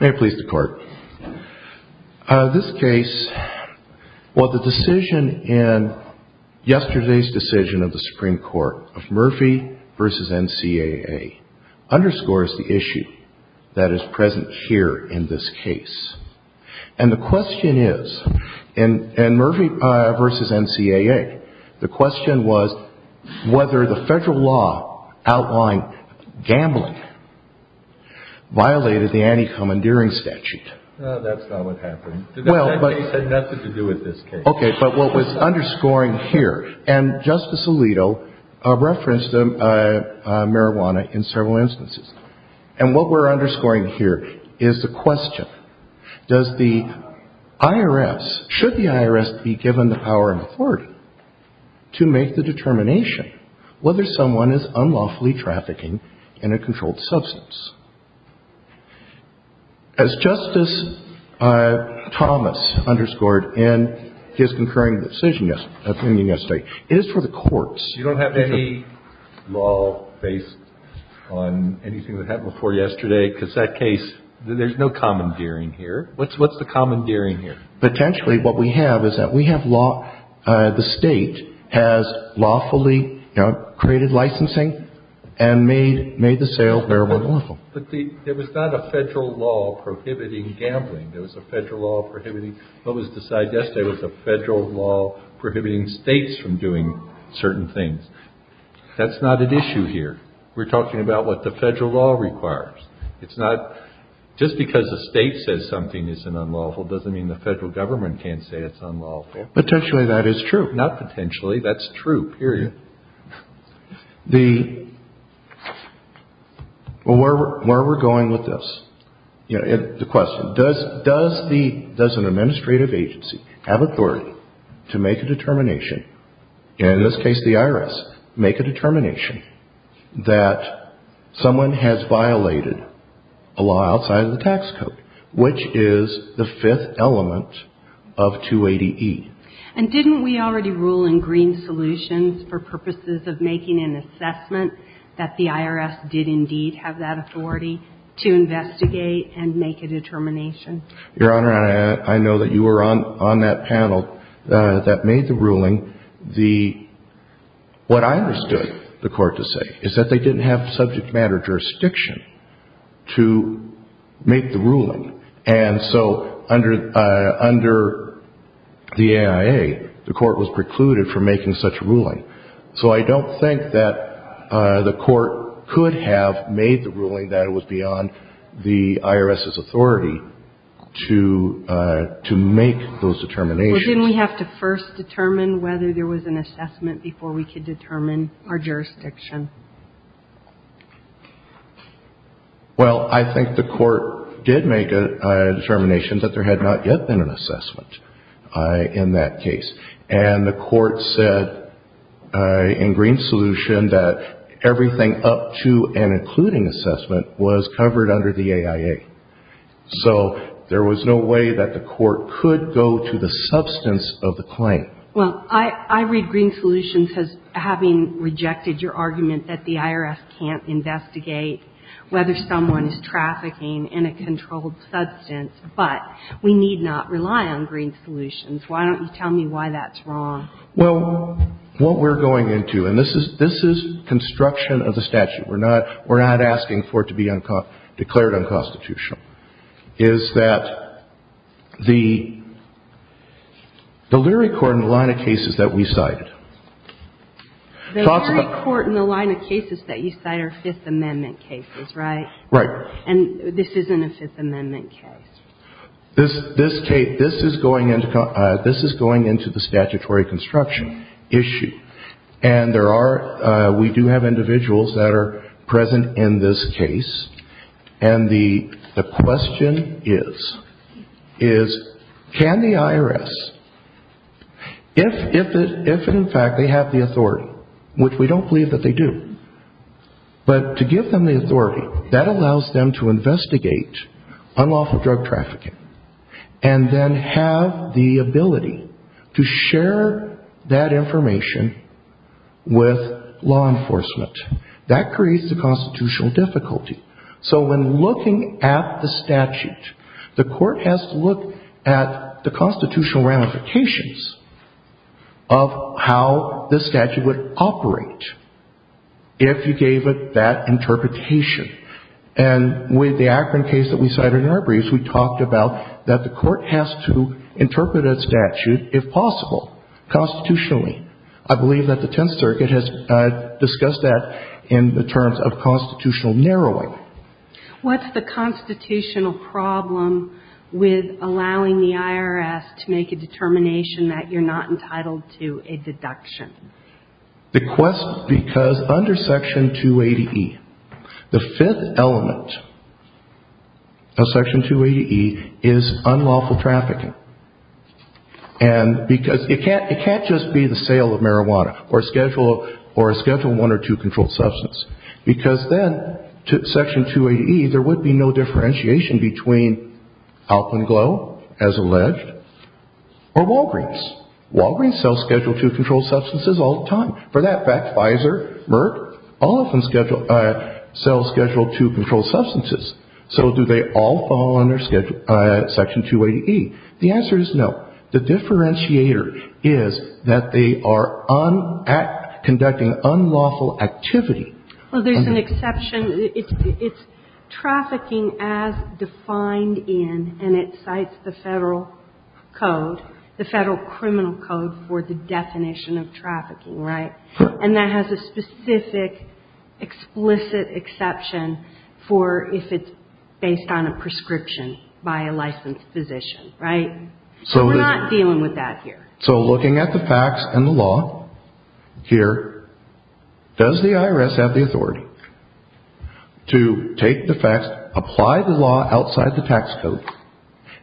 May it please the Court. This case, well the decision in yesterday's decision of the Supreme Court of Murphy v. NCAA, underscores the issue that is present here in this case. And the question is, in Murphy v. NCAA, the question was whether the federal law outlawing gambling violated the anti-commandeering statute. No, that's not what happened. That case had nothing to do with this case. Okay, but what was underscoring here, and Justice Alito referenced marijuana in several instances. And what we're underscoring here is the question, does the IRS, should the IRS be given the power and authority to make the determination whether someone is unlawfully trafficking in a controlled substance? As Justice Thomas underscored in his concurring decision yesterday, it is for the courts. You don't have any law based on anything that happened before yesterday? Because that case, there's no commandeering here. What's the commandeering here? Potentially what we have is that we have law, the State has lawfully created licensing and made the sale marijuana lawful. But there was not a federal law prohibiting gambling. There was a federal law prohibiting. What was decided yesterday was a federal law prohibiting States from doing certain things. That's not at issue here. We're talking about what the federal law requires. It's not just because the State says something is unlawful doesn't mean the federal government can't say it's unlawful. Potentially that is true. Not potentially. That's true, period. Well, where are we going with this? The question, does an administrative agency have authority to make a determination, in this case the IRS, make a determination that someone has violated a law outside of the tax code, which is the fifth element of 280E? And didn't we already rule in Green Solutions for purposes of making an assessment that the IRS did indeed have that authority to investigate and make a determination? Your Honor, I know that you were on that panel that made the ruling. What I understood the court to say is that they didn't have subject matter jurisdiction to make the ruling. And so under the AIA, the court was precluded from making such a ruling. So I don't think that the court could have made the ruling that it was beyond the IRS's authority to make those determinations. Well, didn't we have to first determine whether there was an assessment before we could determine our jurisdiction? Well, I think the court did make a determination that there had not yet been an assessment in that case. And the court said in Green Solution that everything up to and including assessment was covered under the AIA. So there was no way that the court could go to the substance of the claim. Well, I read Green Solutions as having rejected your argument that the IRS can't investigate whether someone is trafficking in a controlled substance. But we need not rely on Green Solutions. Why don't you tell me why that's wrong? Well, what we're going into, and this is construction of the statute. We're not asking for it to be declared unconstitutional, is that the leery court in the line of cases that we cited. The leery court in the line of cases that you cite are Fifth Amendment cases, right? Right. And this isn't a Fifth Amendment case. This is going into the statutory construction issue. And we do have individuals that are present in this case. And the question is, can the IRS, if in fact they have the authority, which we don't believe that they do, but to give them the authority that allows them to investigate unlawful drug trafficking and then have the ability to share that information with law enforcement. That creates the constitutional difficulty. So when looking at the statute, the court has to look at the constitutional ramifications of how the statute would operate if you gave it that interpretation. And with the Akron case that we cited in our briefs, we talked about that the court has to interpret a statute, if possible, constitutionally. I believe that the Tenth Circuit has discussed that in the terms of constitutional narrowing. What's the constitutional problem with allowing the IRS to make a determination that you're not entitled to a deduction? The question, because under Section 280E, the Fifth Element of Section 280E is unlawful trafficking. And because it can't just be the sale of marijuana or a Schedule I or II controlled substance. Because then, Section 280E, there would be no differentiation between Alcond Glow, as alleged, or Walgreens. Walgreens sells Schedule II controlled substances all the time. For that fact, Pfizer, Merck, all of them sell Schedule II controlled substances. So do they all fall under Section 280E? The answer is no. The differentiator is that they are conducting unlawful activity. Well, there's an exception. It's trafficking as defined in, and it cites the federal code, the federal criminal code for the definition of trafficking, right? And that has a specific, explicit exception for if it's based on a prescription by a licensed physician, right? So we're not dealing with that here. So looking at the facts and the law here, does the IRS have the authority to take the facts, apply the law outside the tax code,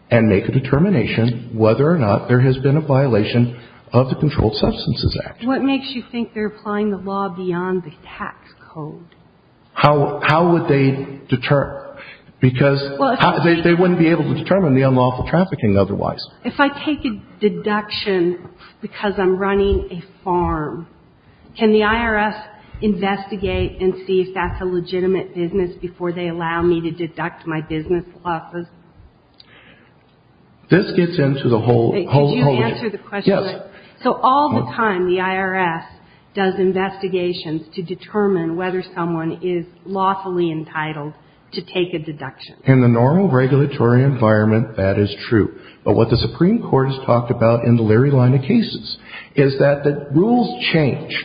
and make a determination whether or not there has been a violation of the Controlled Substances Act? What makes you think they're applying the law beyond the tax code? How would they determine? Because they wouldn't be able to determine the unlawful trafficking otherwise. If I take a deduction because I'm running a farm, can the IRS investigate and see if that's a legitimate business before they allow me to deduct my business losses? This gets into the whole of it. Could you answer the question? Yes. So all the time, the IRS does investigations to determine whether someone is lawfully entitled to take a deduction. In the normal regulatory environment, that is true. But what the Supreme Court has talked about in the Leary line of cases is that the rules change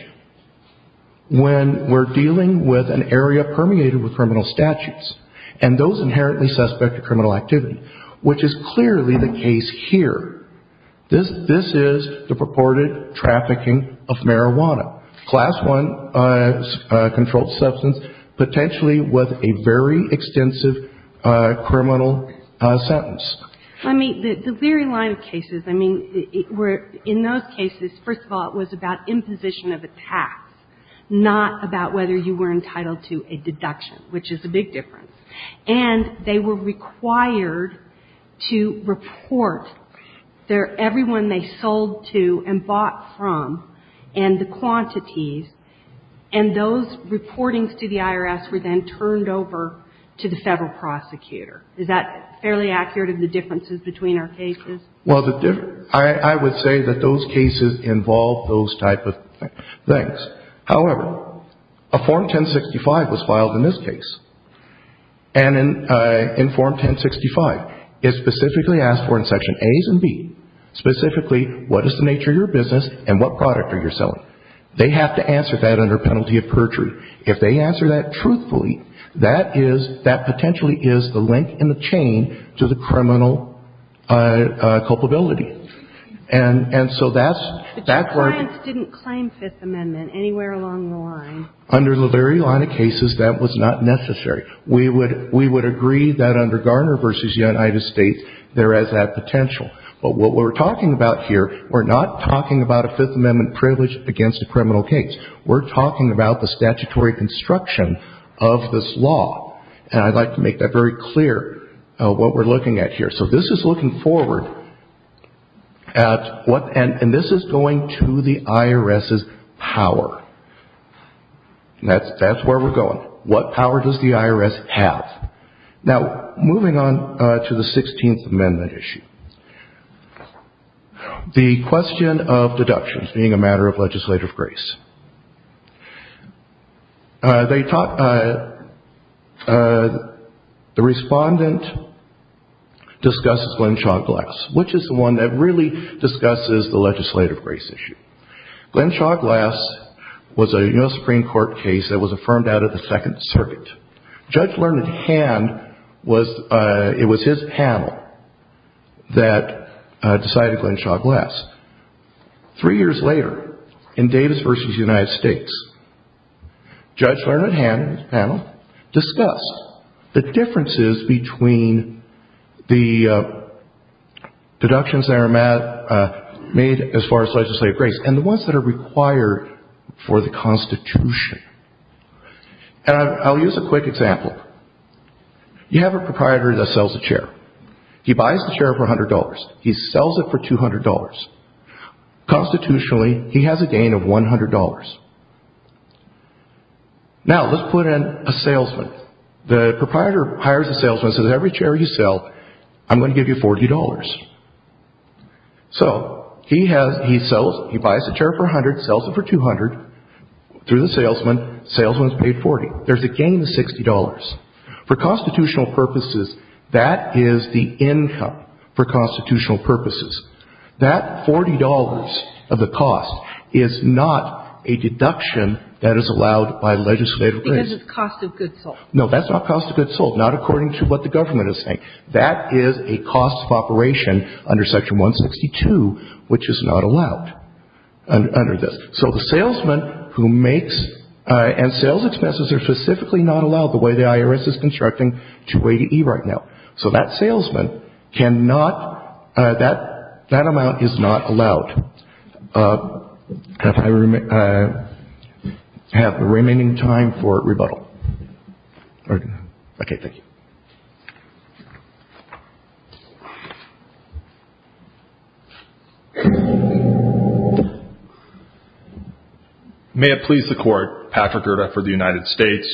when we're dealing with an area permeated with criminal statutes and those inherently suspect of criminal activity, which is clearly the case here. This is the purported trafficking of marijuana, Class I controlled substance, potentially with a very extensive criminal sentence. I mean, the Leary line of cases, I mean, in those cases, first of all, it was about imposition of a tax, not about whether you were entitled to a deduction, which is a big difference. And they were required to report everyone they sold to and bought from and the quantities, and those reportings to the IRS were then turned over to the Federal prosecutor. Is that fairly accurate of the differences between our cases? Well, I would say that those cases involve those type of things. However, a Form 1065 was filed in this case. And in Form 1065, it specifically asked for in Section As and B, specifically, what is the nature of your business and what product are you selling? They have to answer that under penalty of perjury. If they answer that truthfully, that is — that potentially is the link in the chain to the criminal culpability. And so that's — But your clients didn't claim Fifth Amendment anywhere along the line. Under the Leary line of cases, that was not necessary. We would agree that under Garner v. United States, there is that potential. But what we're talking about here, we're not talking about a Fifth Amendment privilege against a criminal case. We're talking about the statutory construction of this law. And I'd like to make that very clear, what we're looking at here. So this is looking forward at what — and this is going to the IRS's power. That's where we're going. What power does the IRS have? Now, moving on to the 16th Amendment issue. The question of deductions being a matter of legislative grace. They taught — the respondent discusses Glen Shaw Glass, which is the one that really discusses the legislative grace issue. Glen Shaw Glass was a U.S. Supreme Court case that was affirmed out of the Second Circuit. Judge Learned Hand was — it was his panel that decided Glen Shaw Glass. Three years later, in Davis v. United States, Judge Learned Hand and his panel discuss the differences between the deductions that are made as far as legislative grace and the ones that are required for the Constitution. And I'll use a quick example. You have a proprietor that sells a chair. He buys the chair for $100. He sells it for $200. Constitutionally, he has a gain of $100. Now, let's put in a salesman. The proprietor hires a salesman, says, Every chair you sell, I'm going to give you $40. So he has — he sells — he buys the chair for $100, sells it for $200. Through the salesman, the salesman is paid $40. There's a gain of $60. For constitutional purposes, that is the income for constitutional purposes. That $40 of the cost is not a deduction that is allowed by legislative grace. Because it's cost of goods sold. No, that's not cost of goods sold, not according to what the government is saying. That is a cost of operation under Section 162, which is not allowed under this. So the salesman who makes — and sales expenses are specifically not allowed the way the IRS is constructing 280E right now. So that salesman cannot — that amount is not allowed. I have the remaining time for rebuttal. Okay, thank you. Thank you. May it please the Court. Patrick Gerda for the United States.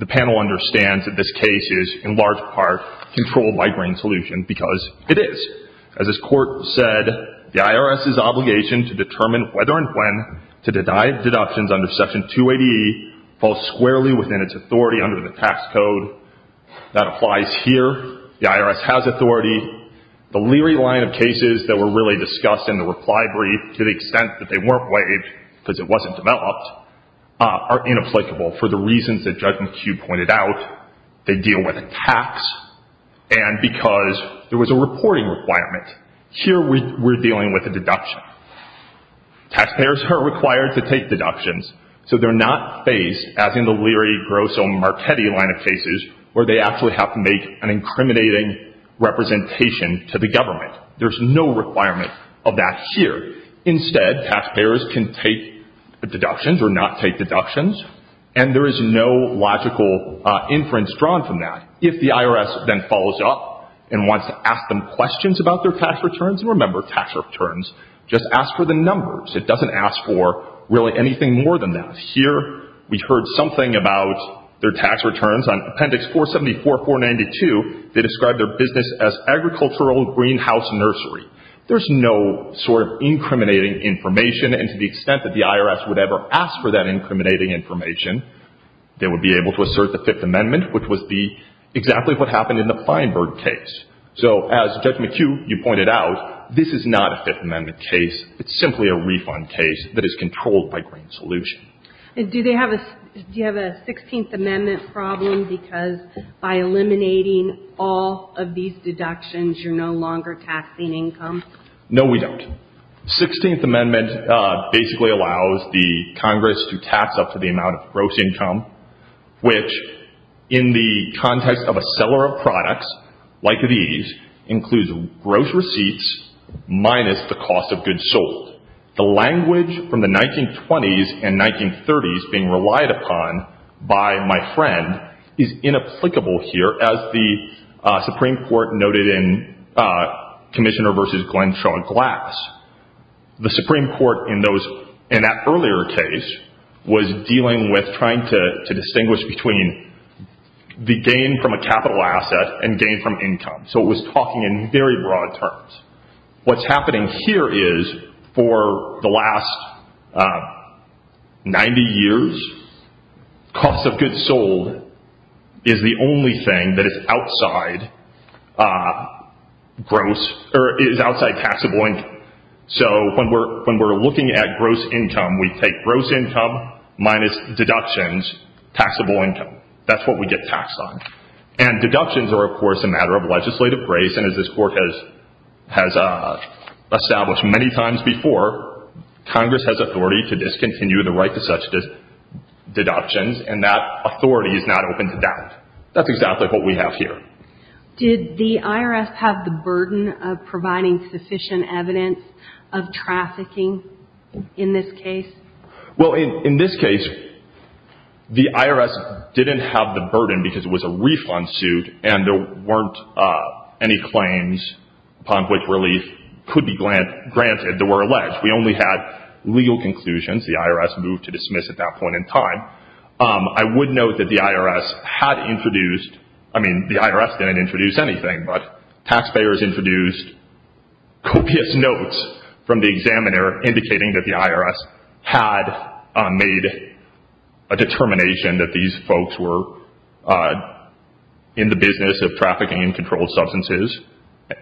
The panel understands that this case is, in large part, controlled by Grain Solution because it is. As this Court said, the IRS's obligation to determine whether and when to deny deductions under Section 280E falls squarely within its authority under the tax code. That applies here. The IRS has authority. The Leary line of cases that were really discussed in the reply brief to the extent that they weren't waived because it wasn't developed are inapplicable for the reasons that Judge McHugh pointed out. They deal with a tax and because there was a reporting requirement. Here we're dealing with a deduction. Taxpayers are required to take deductions. So they're not faced, as in the Leary, Grosso, Marchetti line of cases, where they actually have to make an incriminating representation to the government. There's no requirement of that here. Instead, taxpayers can take deductions or not take deductions. And there is no logical inference drawn from that. If the IRS then follows up and wants to ask them questions about their tax returns — and remember, tax returns just ask for the numbers. It doesn't ask for really anything more than that. Here we heard something about their tax returns. On Appendix 474, 492, they described their business as agricultural greenhouse nursery. There's no sort of incriminating information. And to the extent that the IRS would ever ask for that incriminating information, they would be able to assert the Fifth Amendment, which was exactly what happened in the Feinberg case. So as Judge McHugh, you pointed out, this is not a Fifth Amendment case. It's simply a refund case that is controlled by Green Solution. Do you have a Sixteenth Amendment problem because by eliminating all of these deductions, you're no longer taxing income? No, we don't. Sixteenth Amendment basically allows the Congress to tax up to the amount of gross income, which in the context of a seller of products like these, includes gross receipts minus the cost of goods sold. The language from the 1920s and 1930s being relied upon by my friend is inapplicable here, as the Supreme Court noted in Commissioner v. Glentron Glass. The Supreme Court in that earlier case was dealing with trying to distinguish between the gain from a capital asset and gain from income. So it was talking in very broad terms. What's happening here is for the last 90 years, cost of goods sold is the only thing that is outside taxable income. So when we're looking at gross income, we take gross income minus deductions, taxable income. That's what we get taxed on. And deductions are, of course, a matter of legislative grace, and as this Court has established many times before, Congress has authority to discontinue the right to such deductions, and that authority is not open to doubt. That's exactly what we have here. Did the IRS have the burden of providing sufficient evidence of trafficking in this case? Well, in this case, the IRS didn't have the burden because it was a refund suit and there weren't any claims upon which relief could be granted. They were alleged. We only had legal conclusions. The IRS moved to dismiss at that point in time. I would note that the IRS had introduced, I mean, the IRS didn't introduce anything, but taxpayers introduced copious notes from the examiner indicating that the IRS had made a determination that these folks were in the business of trafficking in controlled substances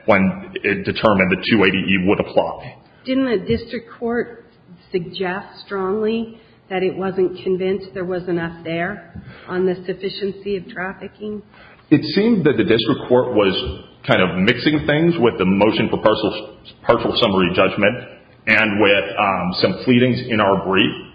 when it determined that 280E would apply. Didn't the district court suggest strongly that it wasn't convinced there was enough there on the sufficiency of trafficking? It seemed that the district court was kind of mixing things with the motion for partial summary judgment and with some pleadings in our brief.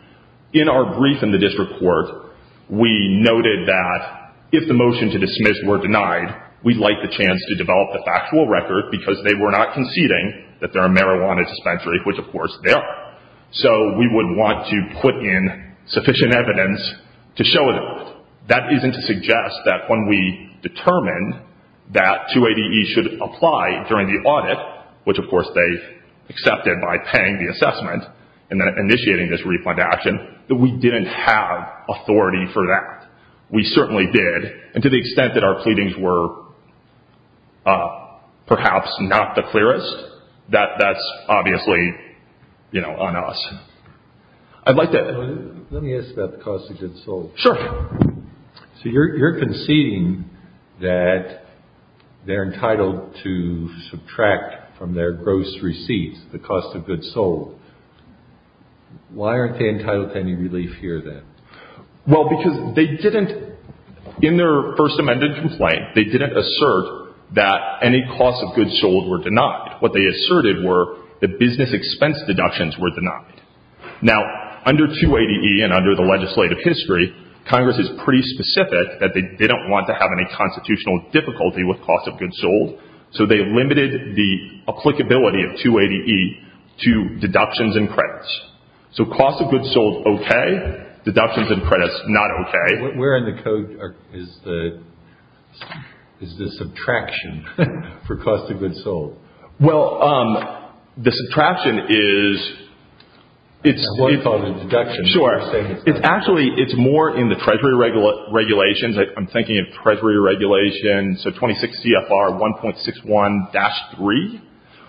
In our brief in the district court, we noted that if the motion to dismiss were denied, we'd like the chance to develop the factual record because they were not conceding that there are marijuana dispensaries, which, of course, there are. So we would want to put in sufficient evidence to show it. That isn't to suggest that when we determined that 280E should apply during the audit, which, of course, they accepted by paying the assessment and then initiating this refund action, that we didn't have authority for that. We certainly did, and to the extent that our pleadings were perhaps not the clearest, that's obviously, you know, on us. I'd like to... Let me ask about the cost of goods sold. Sure. So you're conceding that they're entitled to subtract from their gross receipts the cost of goods sold. Why aren't they entitled to any relief here, then? Well, because they didn't, in their first amended complaint, they didn't assert that any cost of goods sold were denied. What they asserted were that business expense deductions were denied. Now, under 280E and under the legislative history, Congress is pretty specific that they didn't want to have any constitutional difficulty with cost of goods sold, so they limited the applicability of 280E to deductions and credits. So cost of goods sold, okay. Deductions and credits, not okay. Where in the code is the subtraction for cost of goods sold? Well, the subtraction is, it's... It's more in the Treasury regulations. I'm thinking of Treasury regulations, so 26 CFR 1.61-3.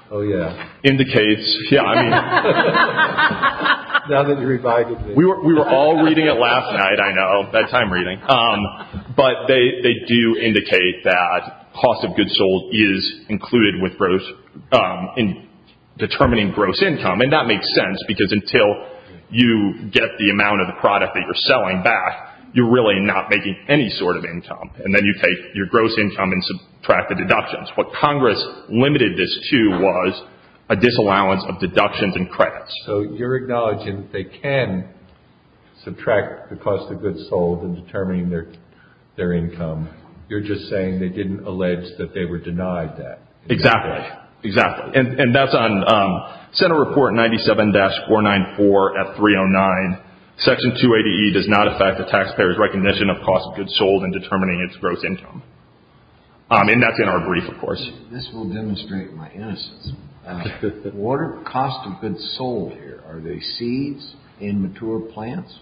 Oh, yeah. Indicates... Yeah, I mean... Now that you've revised it. We were all reading it last night, I know, bedtime reading. But they do indicate that cost of goods sold is included with gross, in determining gross income. And that makes sense, because until you get the amount of the product that you're selling back, you're really not making any sort of income. And then you take your gross income and subtract the deductions. What Congress limited this to was a disallowance of deductions and credits. So you're acknowledging they can subtract the cost of goods sold in determining their income. You're just saying they didn't allege that they were denied that. Exactly. Exactly. And that's on Senate Report 97-494F309. Section 280E does not affect the taxpayer's recognition of cost of goods sold in determining its gross income. And that's in our brief, of course. This will demonstrate my innocence. What are the costs of goods sold here? Are they seeds in mature plants?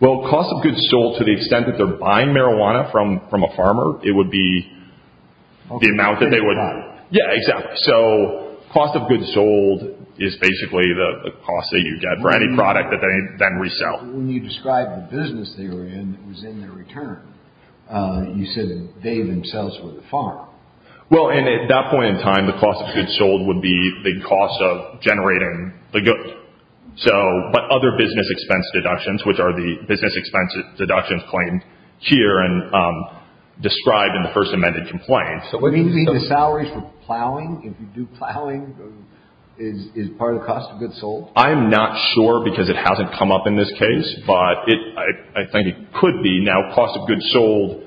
Well, cost of goods sold, to the extent that they're buying marijuana from a farmer, it would be the amount that they would... Yeah, exactly. So cost of goods sold is basically the cost that you get for any product that they then resell. When you described the business they were in that was in their return, you said that they themselves were the farmer. Well, and at that point in time, the cost of goods sold would be the cost of generating the goods. But other business expense deductions, which are the business expense deductions claimed here and described in the first amended complaint... Would it be the salaries for plowing? If you do plowing, is part of the cost of goods sold? I'm not sure because it hasn't come up in this case. But I think it could be. Now, cost of goods sold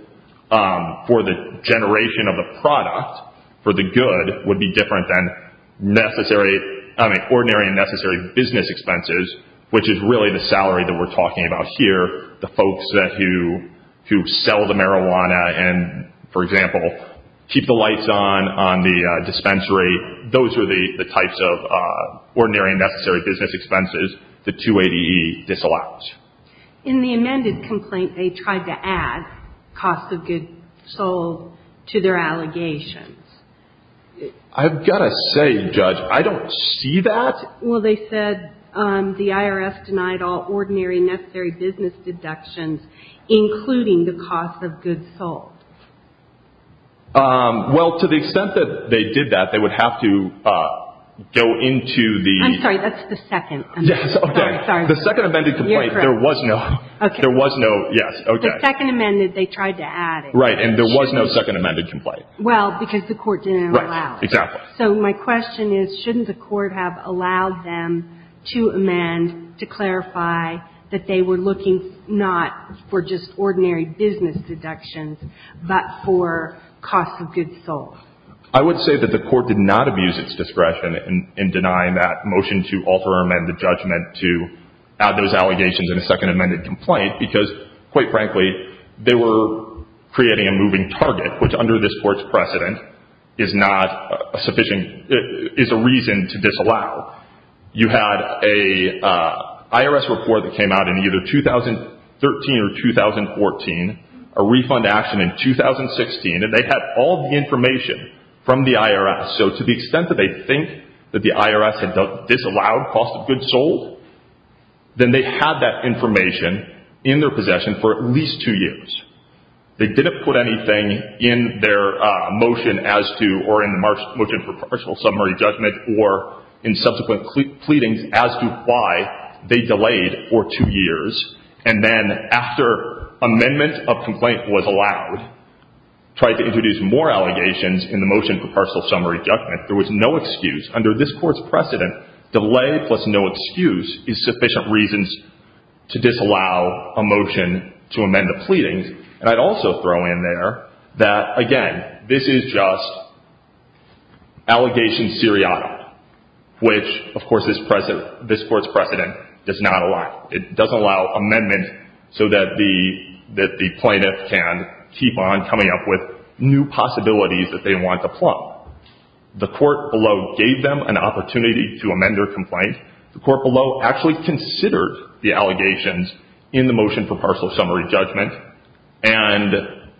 for the generation of the product, for the good, would be different than ordinary and necessary business expenses, which is really the salary that we're talking about here. The folks who sell the marijuana and, for example, keep the lights on on the dispensary, those are the types of ordinary and necessary business expenses that 280E disallows. In the amended complaint, they tried to add cost of goods sold to their allegations. I've got to say, Judge, I don't see that. Well, they said the IRS denied all ordinary and necessary business deductions, including the cost of goods sold. Well, to the extent that they did that, they would have to go into the... I'm sorry, that's the second amendment. Yes, okay. The second amended complaint, there was no... Okay. There was no, yes, okay. The second amended, they tried to add it. Right, and there was no second amended complaint. Well, because the court didn't allow it. Right, exactly. So my question is, shouldn't the court have allowed them to amend to clarify that they were looking not for just ordinary business deductions, but for cost of goods sold? I would say that the court did not abuse its discretion in denying that motion to alter or amend the judgment to add those allegations in a second amended complaint, because, quite frankly, they were creating a moving target, which under this court's precedent is not a sufficient... is a reason to disallow. You had an IRS report that came out in either 2013 or 2014, a refund action in 2016, and they had all the information from the IRS. So to the extent that they think that the IRS had disallowed cost of goods sold, then they had that information in their possession for at least two years. They didn't put anything in their motion as to... in subsequent pleadings as to why they delayed for two years, and then after amendment of complaint was allowed, tried to introduce more allegations in the motion for partial summary judgment. There was no excuse. Under this court's precedent, delay plus no excuse is sufficient reasons to disallow a motion to amend the pleadings. And I'd also throw in there that, again, this is just allegation seriata, which, of course, this court's precedent does not allow. It doesn't allow amendment so that the plaintiff can keep on coming up with new possibilities that they want to plumb. The court below gave them an opportunity to amend their complaint. The court below actually considered the allegations in the motion for partial summary judgment, and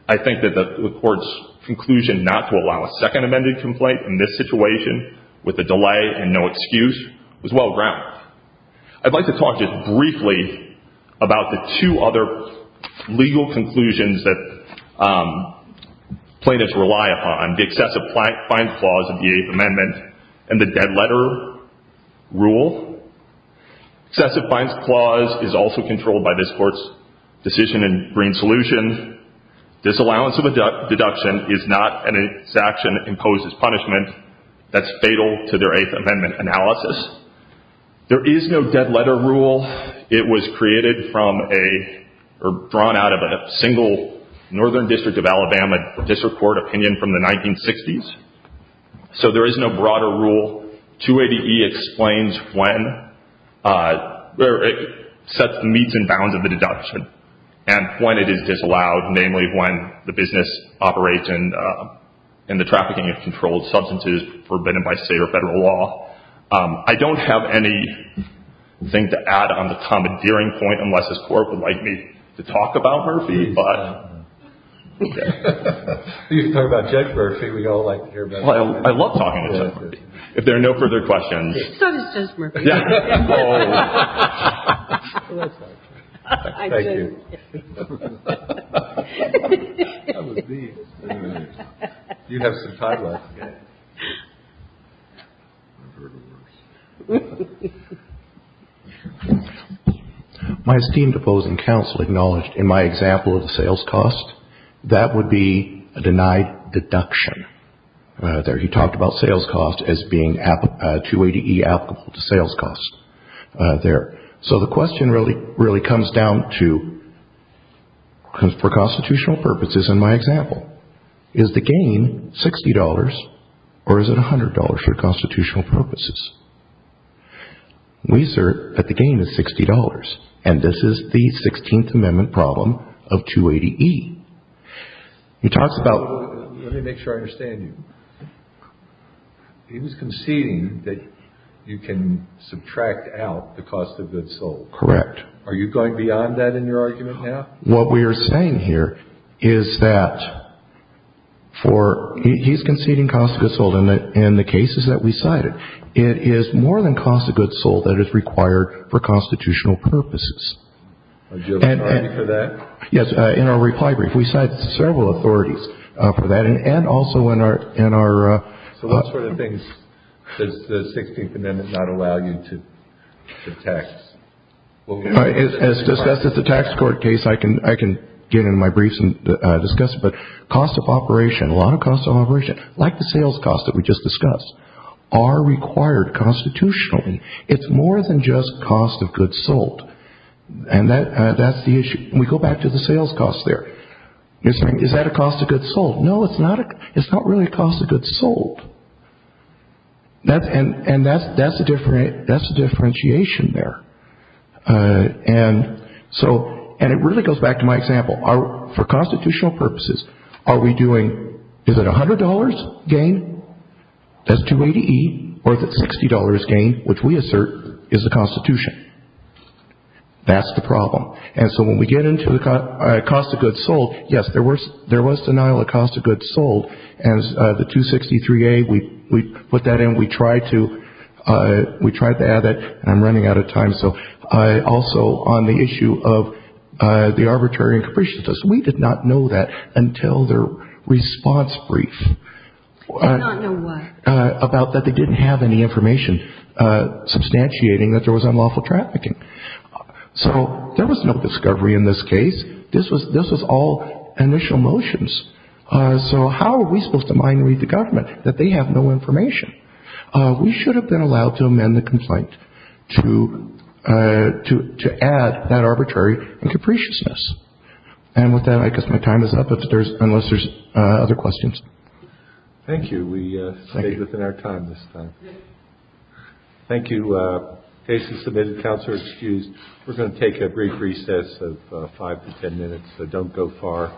I think that the court's conclusion not to allow a second amended complaint in this situation, with a delay and no excuse, was well-grounded. I'd like to talk just briefly about the two other legal conclusions that plaintiffs rely upon, the excessive fines clause of the Eighth Amendment and the dead letter rule. Excessive fines clause is also controlled by this court's decision in Green Solution. Disallowance of a deduction is not an action imposed as punishment. That's fatal to their Eighth Amendment analysis. There is no dead letter rule. It was created from a, or drawn out of a single northern district of Alabama district court opinion from the 1960s. So there is no broader rule. 280E explains when, where it meets and bounds of the deduction and when it is disallowed, namely when the business operates in the trafficking of controlled substances forbidden by state or federal law. I don't have anything to add on the commandeering point unless this court would like me to talk about Murphy, but. You can talk about Judge Murphy. We all like to hear about him. I love talking to Judge Murphy. If there are no further questions. So does Judge Murphy. Thank you. My esteemed opposing counsel acknowledged in my example of the sales cost that would be a denied deduction. There he talked about sales cost as being 280E applicable to sales cost there. So the question really, really comes down to, you know, is there a deduction? For constitutional purposes in my example, is the gain $60 or is it $100 for constitutional purposes? We assert that the gain is $60. And this is the 16th Amendment problem of 280E. He talks about. Let me make sure I understand you. He was conceding that you can subtract out the cost of goods sold. Correct. Are you going beyond that in your argument now? What we are saying here is that for. He's conceding cost of goods sold in the cases that we cited. It is more than cost of goods sold that is required for constitutional purposes. Do you have an authority for that? Yes. In our reply brief, we cite several authorities for that. And also in our. So what sort of things does the 16th Amendment not allow you to tax? As discussed at the tax court case, I can get into my briefs and discuss it. But cost of operation, a lot of cost of operation, like the sales cost that we just discussed, are required constitutionally. It's more than just cost of goods sold. And that's the issue. We go back to the sales cost there. Is that a cost of goods sold? No, it's not. It's not really a cost of goods sold. And that's the differentiation there. And so, and it really goes back to my example. For constitutional purposes, are we doing, is it $100 gain? That's 280E. Or is it $60 gain, which we assert is the Constitution? That's the problem. And so when we get into the cost of goods sold, yes, there was denial of cost of goods sold. And the 263A, we put that in. We tried to add that. And I'm running out of time. So also on the issue of the arbitrary and capriciousness, we did not know that until their response brief. Did not know what? About that they didn't have any information substantiating that there was unlawful trafficking. So there was no discovery in this case. This was all initial motions. So how are we supposed to mind read the government that they have no information? We should have been allowed to amend the complaint to add that arbitrary and capriciousness. And with that, I guess my time is up, unless there's other questions. Thank you. We stayed within our time this time. Thank you. Case is submitted. Counselors excused. We're going to take a brief recess of five to ten minutes, so don't go far.